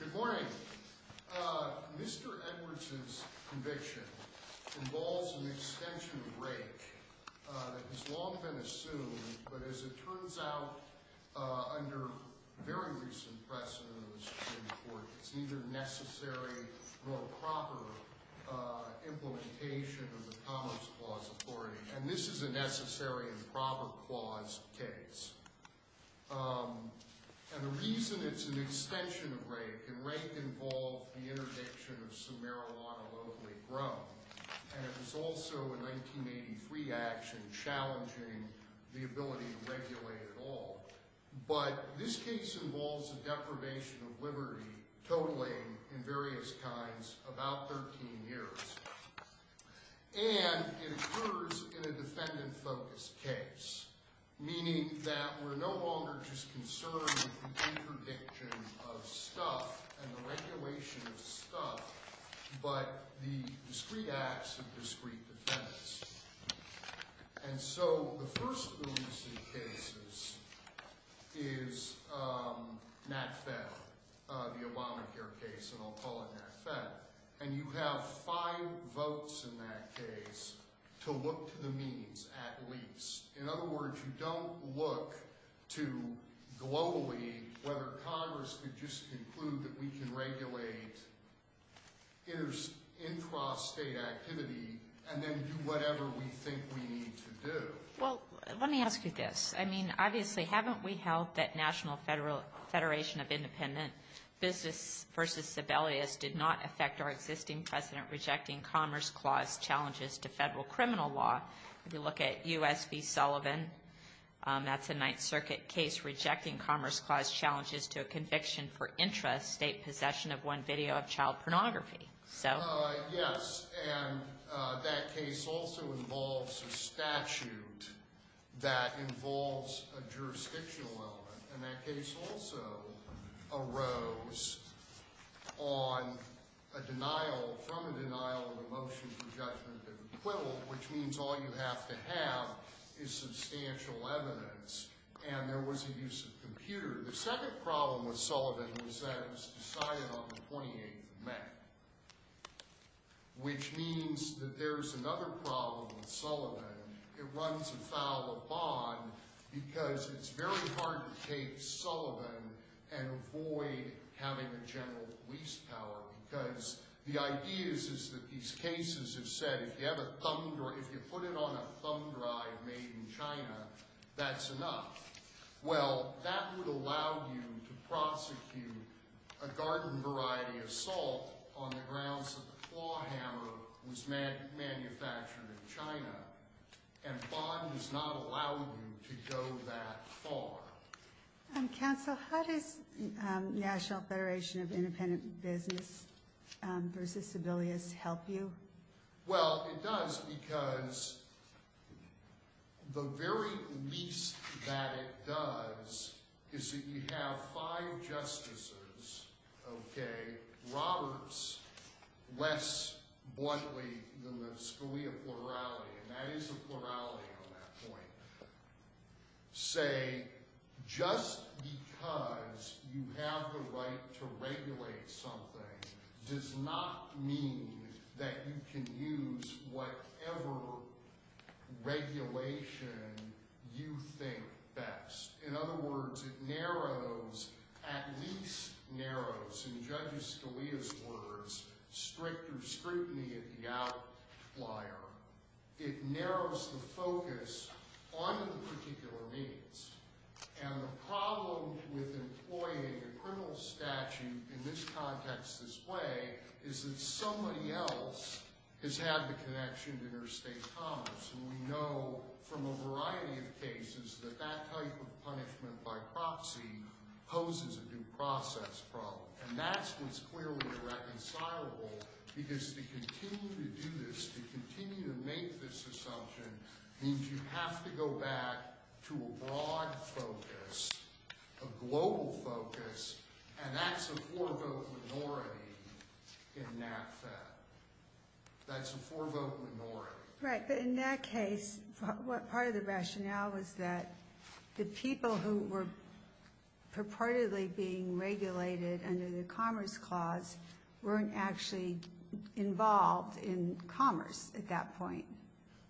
Good morning, Mr. Edwards's conviction involves an extension of rake that has long been assumed but as it turns out, under very recent precedent in the Supreme Court, it's neither necessary nor proper implementation of the policy. And this is a necessary and proper clause case. And the reason it's an extension of rake, and rake involved the interdiction of some marijuana locally grown, and it was also a 1983 action challenging the ability to regulate at all. But this case involves a deprivation of liberty totaling, in various kinds, about 13 years. And it occurs in a defendant-focused case, meaning that we're no longer just concerned with the interdiction of stuff and the regulation of stuff, but the discrete acts of discrete defendants. And so the first of the recent cases is Nat Feb, the Obamacare case, and I'll call it Nat Feb. And you have five votes in that case to look to the means at least. In other words, you don't look to globally whether Congress could just conclude that we can regulate intrastate activity and then do whatever we think we need to do. Well, let me ask you this. I mean, obviously, haven't we held that National Federation of Independent Business v. Sibelius did not affect our existing precedent rejecting Commerce Clause challenges to federal criminal law? If you look at U.S. v. Sullivan, that's a Ninth Circuit case rejecting Commerce Clause challenges to a conviction for intrastate possession of one video of child pornography. Yes, and that case also involves a statute that involves a jurisdictional element. And that case also arose on a denial, from a denial of a motion for judgment of acquittal, which means all you have to have is substantial evidence, and there was a use of computer. The second problem with Sullivan was that it was decided on the 28th of May, which means that there's another problem with Sullivan. It runs afoul of Bond because it's very hard to take Sullivan and avoid having a general police power because the idea is that these cases have said if you put it on a thumb drive made in China, that's enough. Well, that would allow you to prosecute a garden variety assault on the grounds that the claw hammer was manufactured in China, and Bond has not allowed you to go that far. Counsel, how does National Federation of Independent Business v. Sibelius help you? Well, it does because the very least that it does is that you have five justices, okay, Roberts less bluntly than the Scalia plurality, and that is a plurality on that point, say just because you have the right to regulate something does not mean that you can use whatever regulation you think best. In other words, it narrows, at least narrows, in Judge Scalia's words, stricter scrutiny of the outlier. It narrows the focus on the particular needs, and the problem with employing a criminal statute in this context this way is that somebody else has had the connection to interstate commerce, and we know from a variety of cases that that type of punishment by proxy poses a due process problem, and that's what's clearly irreconcilable because to continue to do this, to continue to make this assumption means you have to go back to a broad focus, a global focus, and that's a four-vote minority in NACFED. That's a four-vote minority. Right, but in that case, part of the rationale was that the people who were purportedly being regulated under the Commerce Clause weren't actually involved in commerce at that point.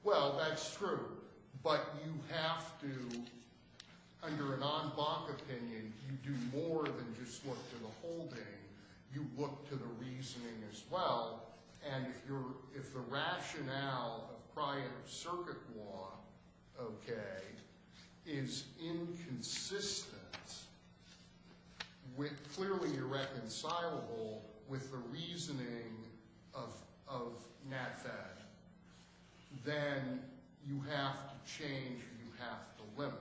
Well, that's true, but you have to, under a non-BAC opinion, you do more than just look to the holding. You look to the reasoning as well, and if the rationale of prior circuit law, okay, is inconsistent, clearly irreconcilable with the reasoning of NACFED, then you have to change, you have to limit,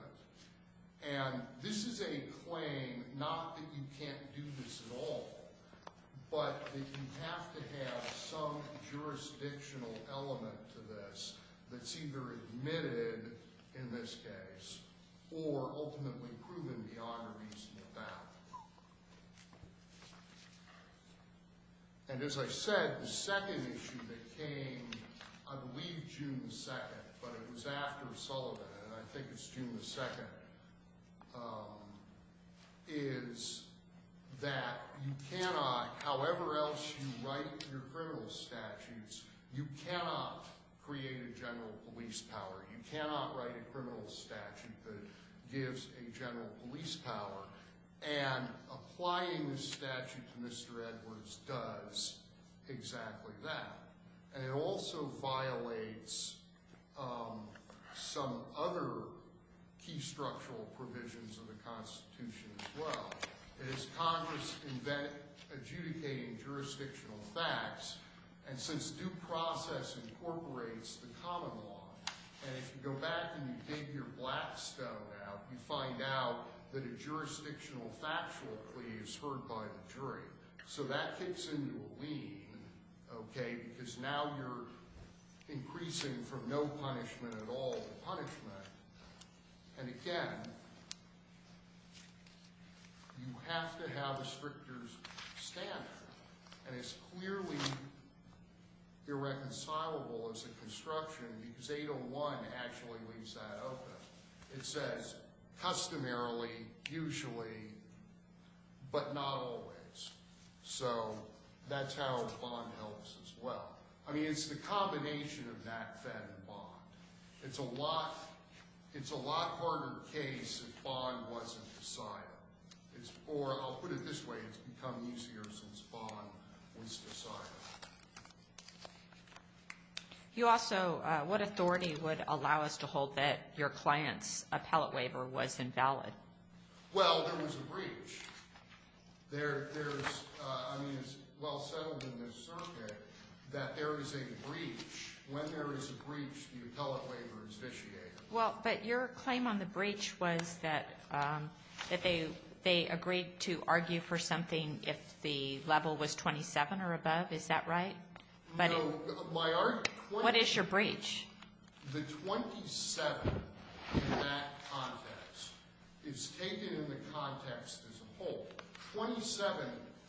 and this is a claim, not that you can't do this at all, but that you have to have some jurisdictional element to this that's either admitted in this case or ultimately proven biographies in the past, and as I said, the second issue that came, I believe June 2nd, but it was after Sullivan, and I think it's June 2nd, is that you cannot, however else you write your criminal statutes, you cannot create a general police power. You cannot write a criminal statute that gives a general police power, and applying the statute to Mr. Edwards does exactly that, and it also violates some other key structural provisions of the Constitution as well. It is Congress adjudicating jurisdictional facts, and since due process incorporates the common law, and if you go back and you dig your black stone out, you find out that a jurisdictional factual plea is heard by the jury, so that kicks into a lean, okay, because now you're increasing from no punishment at all to punishment, and again, you have to have a stricter standard, and it's clearly irreconcilable as a construction because 801 actually leaves that open. It says customarily, usually, but not always, so that's how bond helps as well. I mean, it's the combination of that, fed, and bond. It's a lot harder case if bond wasn't decided, or I'll put it this way. It's become easier since bond was decided. You also, what authority would allow us to hold that your client's appellate waiver was invalid? Well, there was a breach. There's, I mean, it's well settled in this circuit that there is a breach. When there is a breach, the appellate waiver is vitiated. Well, but your claim on the breach was that they agreed to argue for something if the level was 27 or above. Is that right? No. What is your breach? The 27 in that context is taken in the context as a whole. 27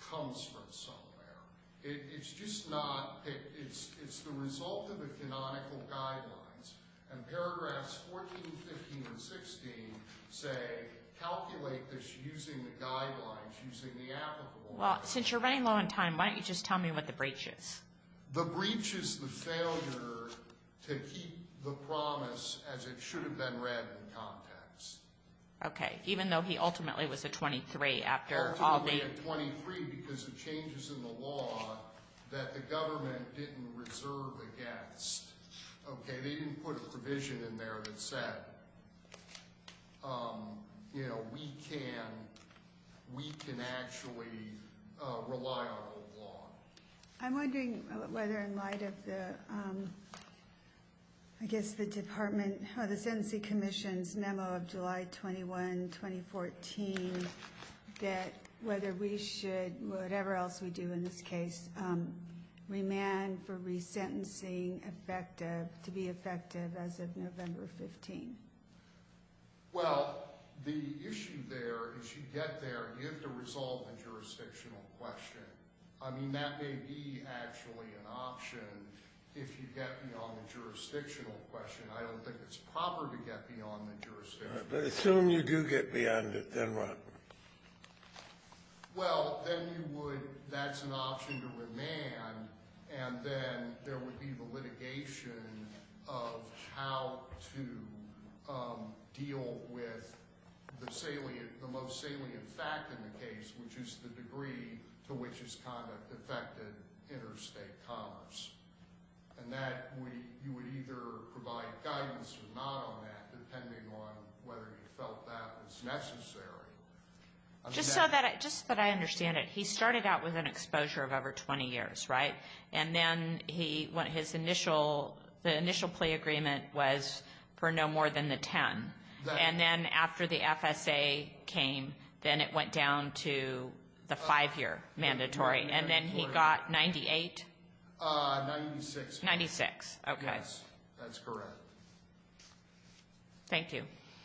comes from somewhere. It's just not, it's the result of the canonical guidelines, and paragraphs 14, 15, and 16 say, calculate this using the guidelines, using the applicable. Well, since you're running low on time, why don't you just tell me what the breach is? The breach is the failure to keep the promise as it should have been read in context. Okay, even though he ultimately was a 23 after all the. He had 23 because of changes in the law that the government didn't reserve against. Okay, they didn't put a provision in there that said, you know, we can actually rely on the law. I'm wondering whether in light of the, I guess the department, or the sentencing commission's memo of July 21, 2014, that whether we should, whatever else we do in this case, remand for resentencing effective, to be effective as of November 15. Well, the issue there, as you get there, you have to resolve the jurisdictional question. I mean, that may be actually an option if you get beyond the jurisdictional question. I don't think it's proper to get beyond the jurisdictional question. But assume you do get beyond it, then what? Well, then you would, that's an option to remand, and then there would be the litigation of how to deal with the salient, the most salient fact in the case, which is the degree to which his conduct affected interstate commerce. And that you would either provide guidance or not on that, depending on whether you felt that was necessary. Just so that I understand it, he started out with an exposure of over 20 years, right? And then his initial, the initial plea agreement was for no more than the 10. And then after the FSA came, then it went down to the 5-year mandatory. And then he got 98? 96. 96, okay. Yes, that's correct. Thank you.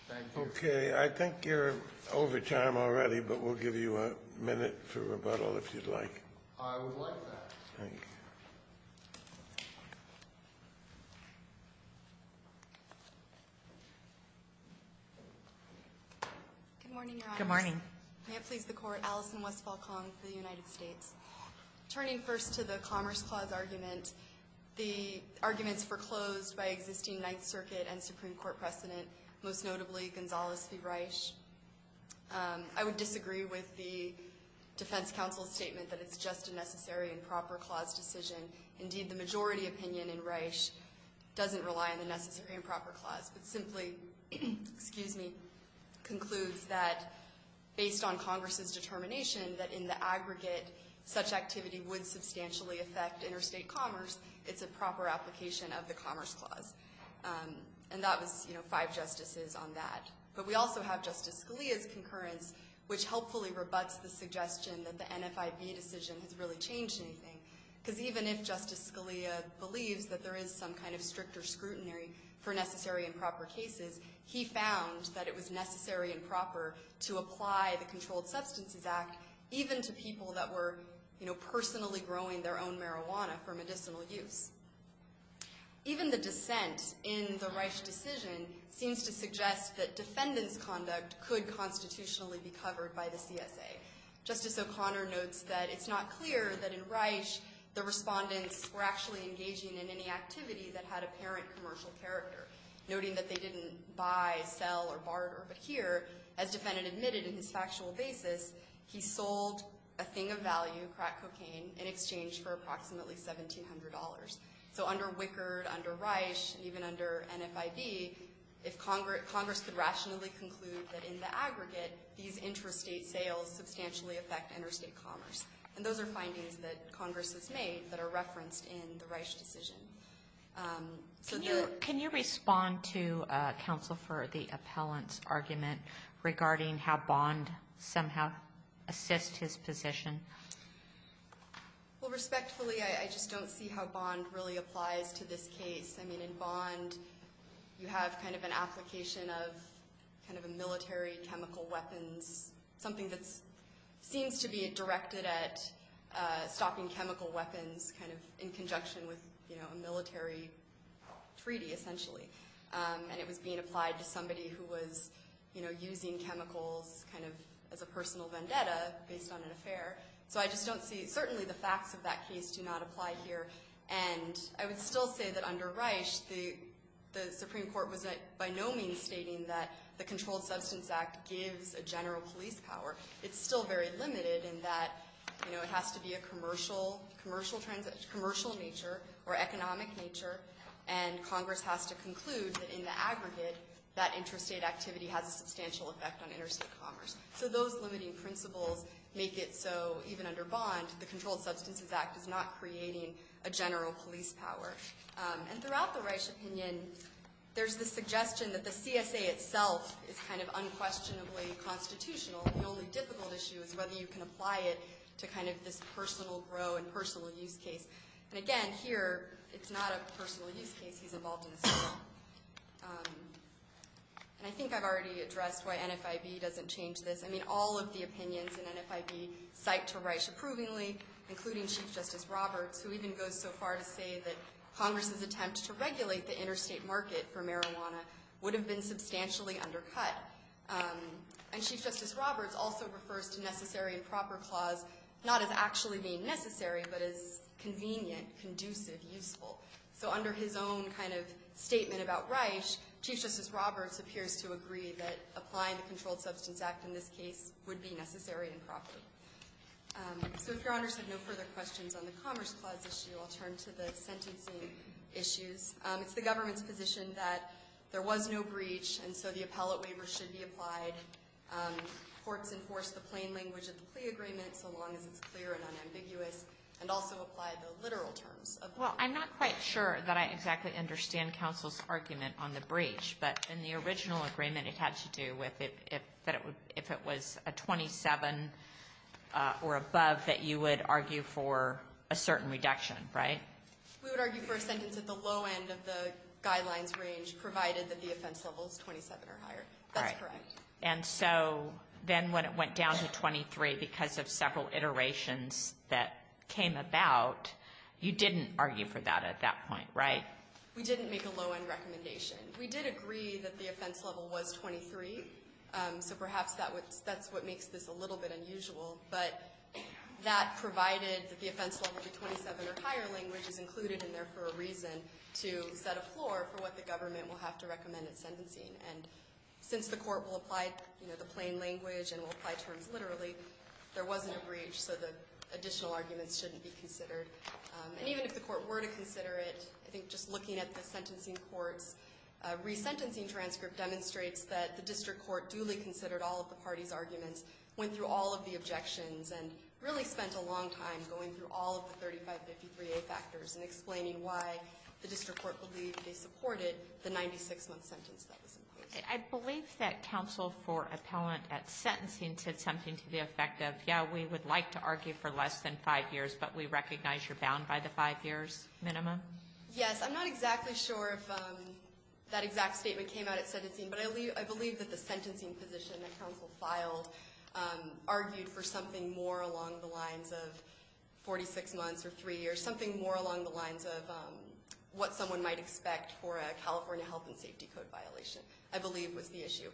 Thank you. Okay. I think you're over time already, but we'll give you a minute for rebuttal if you'd like. I would like that. Thank you. Good morning, Your Honors. Good morning. May it please the Court. Allison Westfall-Kong for the United States. Turning first to the Commerce Clause argument, the arguments were closed by existing Ninth Circuit and Supreme Court precedent, most notably Gonzales v. Reich. I would disagree with the Defense Council's statement that it's just a necessary and proper clause decision. Indeed, the majority opinion in Reich doesn't rely on the necessary and proper clause, but simply, excuse me, concludes that based on Congress's determination that in the aggregate, such activity would substantially affect interstate commerce, it's a proper application of the Commerce Clause. And that was, you know, five justices on that. But we also have Justice Scalia's concurrence, which helpfully rebuts the suggestion that the NFIB decision has really changed anything. Because even if Justice Scalia believes that there is some kind of stricter scrutiny for necessary and proper cases, he found that it was necessary and proper to apply the Controlled Substances Act, even to people that were, you know, personally growing their own marijuana for medicinal use. Even the dissent in the Reich decision seems to suggest that defendant's conduct could constitutionally be covered by the CSA. Justice O'Connor notes that it's not clear that in Reich the respondents were actually engaging in any activity that had apparent commercial character. Noting that they didn't buy, sell, or barter, but here, as defendant admitted in his factual basis, he sold a thing of value, crack cocaine, in exchange for approximately $1,700. So under Wickard, under Reich, and even under NFIB, if Congress could rationally conclude that in the aggregate, these intrastate sales substantially affect interstate commerce. And those are findings that Congress has made that are referenced in the Reich decision. Can you respond to Counsel for the Appellant's argument regarding how Bond somehow assists his position? Well, respectfully, I just don't see how Bond really applies to this case. I mean, in Bond, you have kind of an application of kind of a military chemical weapons, something that seems to be directed at stopping chemical weapons kind of in conjunction with, you know, a military treaty, essentially. And it was being applied to somebody who was, you know, using chemicals kind of as a personal vendetta based on an affair. So I just don't see – certainly the facts of that case do not apply here. And I would still say that under Reich, the Supreme Court was by no means stating that the Controlled Substances Act gives a general police power. It's still very limited in that, you know, it has to be a commercial nature or economic nature, and Congress has to conclude that in the aggregate, that intrastate activity has a substantial effect on interstate commerce. So those limiting principles make it so even under Bond, the Controlled Substances Act is not creating a general police power. And throughout the Reich opinion, there's the suggestion that the CSA itself is kind of unquestionably constitutional. The only difficult issue is whether you can apply it to kind of this personal grow and personal use case. And again, here, it's not a personal use case. He's involved in a civil one. And I think I've already addressed why NFIB doesn't change this. I mean, all of the opinions in NFIB cite to Reich approvingly, including Chief Justice Roberts, who even goes so far to say that Congress's attempt to regulate the interstate market for marijuana would have been substantially undercut. And Chief Justice Roberts also refers to necessary and proper clause not as actually being necessary but as convenient, conducive, useful. So under his own kind of statement about Reich, Chief Justice Roberts appears to agree that applying the Controlled Substances Act in this case would be necessary and proper. So if Your Honors have no further questions on the Commerce Clause issue, I'll turn to the sentencing issues. It's the government's position that there was no breach, and so the appellate waiver should be applied. Courts enforce the plain language of the plea agreement so long as it's clear and unambiguous, and also apply the literal terms of the plea agreement. Well, I'm not quite sure that I exactly understand counsel's argument on the breach. But in the original agreement, it had to do with if it was a 27 or above, that you would argue for a certain reduction, right? We would argue for a sentence at the low end of the guidelines range, provided that the offense level is 27 or higher. That's correct. And so then when it went down to 23 because of several iterations that came about, you didn't argue for that at that point, right? We didn't make a low-end recommendation. We did agree that the offense level was 23, so perhaps that's what makes this a little bit unusual. But that provided that the offense level would be 27 or higher, which is included in there for a reason, to set a floor for what the government will have to recommend in sentencing. And since the court will apply, you know, the plain language and will apply terms literally, there wasn't a breach, so the additional arguments shouldn't be considered. And even if the court were to consider it, I think just looking at the sentencing court's resentencing transcript demonstrates that the district court duly considered all of the parties' arguments, went through all of the objections, and really spent a long time going through all of the 3553A factors and explaining why the district court believed they supported the 96-month sentence that was imposed. I believe that counsel for appellant at sentencing said something to the effect of, yeah, we would like to argue for less than five years, but we recognize you're bound by the five years minimum. Yes. I'm not exactly sure if that exact statement came out at sentencing, but I believe that the sentencing position that counsel filed argued for something more along the lines of 46 months or three years, or something more along the lines of what someone might expect for a California health and safety code violation, I believe was the issue.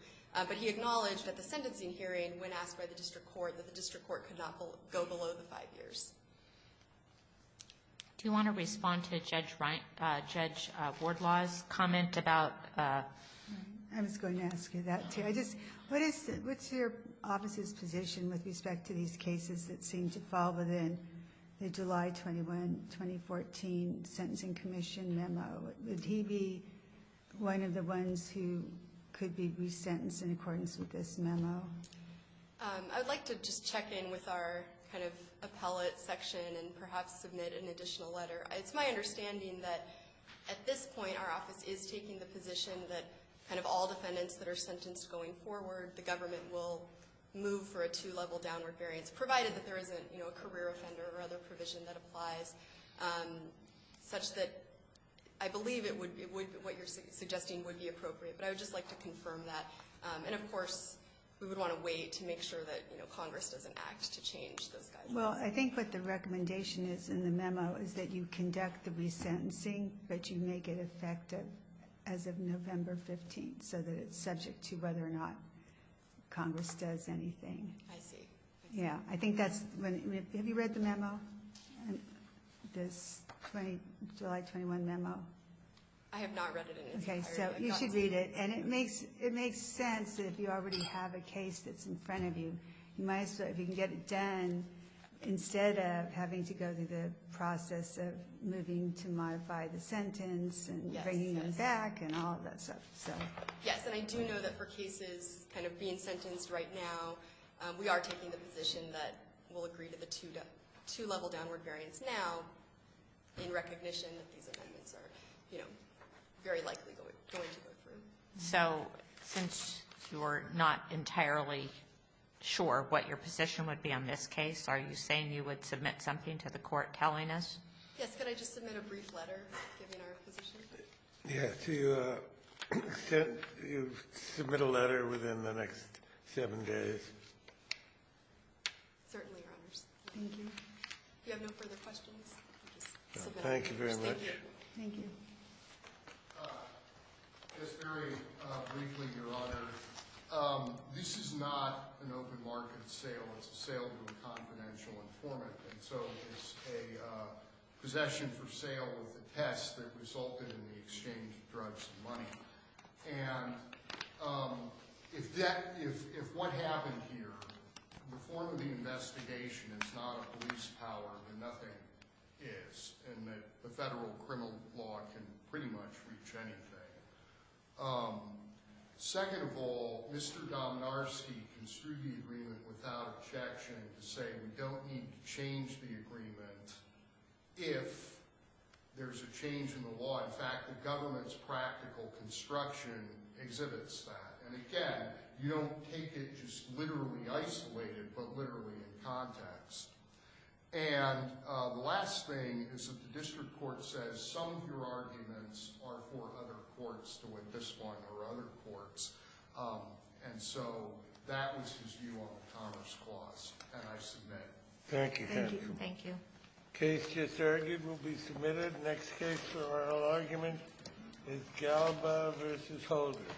But he acknowledged at the sentencing hearing when asked by the district court that the district court could not go below the five years. Do you want to respond to Judge Wardlaw's comment about – I was going to ask you that, too. What's your office's position with respect to these cases that seem to fall within the July 21, 2014 sentencing commission memo? Would he be one of the ones who could be resentenced in accordance with this memo? I would like to just check in with our kind of appellate section and perhaps submit an additional letter. It's my understanding that at this point our office is taking the position that kind of all defendants that are sentenced going forward, the government will move for a two-level downward variance, provided that there isn't a career offender or other provision that applies, such that I believe what you're suggesting would be appropriate. But I would just like to confirm that. And, of course, we would want to wait to make sure that Congress doesn't act to change those guidelines. Well, I think what the recommendation is in the memo is that you conduct the resentencing, but you make it effective as of November 15, so that it's subject to whether or not Congress does anything. I see. Yeah, I think that's – have you read the memo, this July 21 memo? I have not read it. Okay, so you should read it. And it makes sense that if you already have a case that's in front of you, you can get it done instead of having to go through the process of moving to modify the sentence and bringing them back and all of that stuff. Yes, and I do know that for cases kind of being sentenced right now, we are taking the position that we'll agree to the two-level downward variance now in recognition that these amendments are, you know, very likely going to go through. So since you're not entirely sure what your position would be on this case, are you saying you would submit something to the Court telling us? Yes. Could I just submit a brief letter giving our position? Yes. You submit a letter within the next seven days. Certainly, Your Honors. Thank you. If you have no further questions, I'll just submit it. Thank you very much. Thank you. Thank you. Just very briefly, Your Honor, this is not an open market sale. It's a sale to a confidential informant. And so it's a possession for sale with a test that resulted in the exchange of drugs and money. And if what happened here in the form of the investigation is not a police power, then nothing is. And the federal criminal law can pretty much reach anything. Second of all, Mr. Dominarski construed the agreement without objection to say we don't need to change the agreement if there's a change in the law. In fact, the government's practical construction exhibits that. And again, you don't take it just literally isolated, but literally in context. And the last thing is that the district court says some of your arguments are for other courts to win this one or other courts. And so that was his view on the commerce clause, and I submit. Thank you. Thank you. Case just argued will be submitted. Next case for oral argument is Galba v. Holder.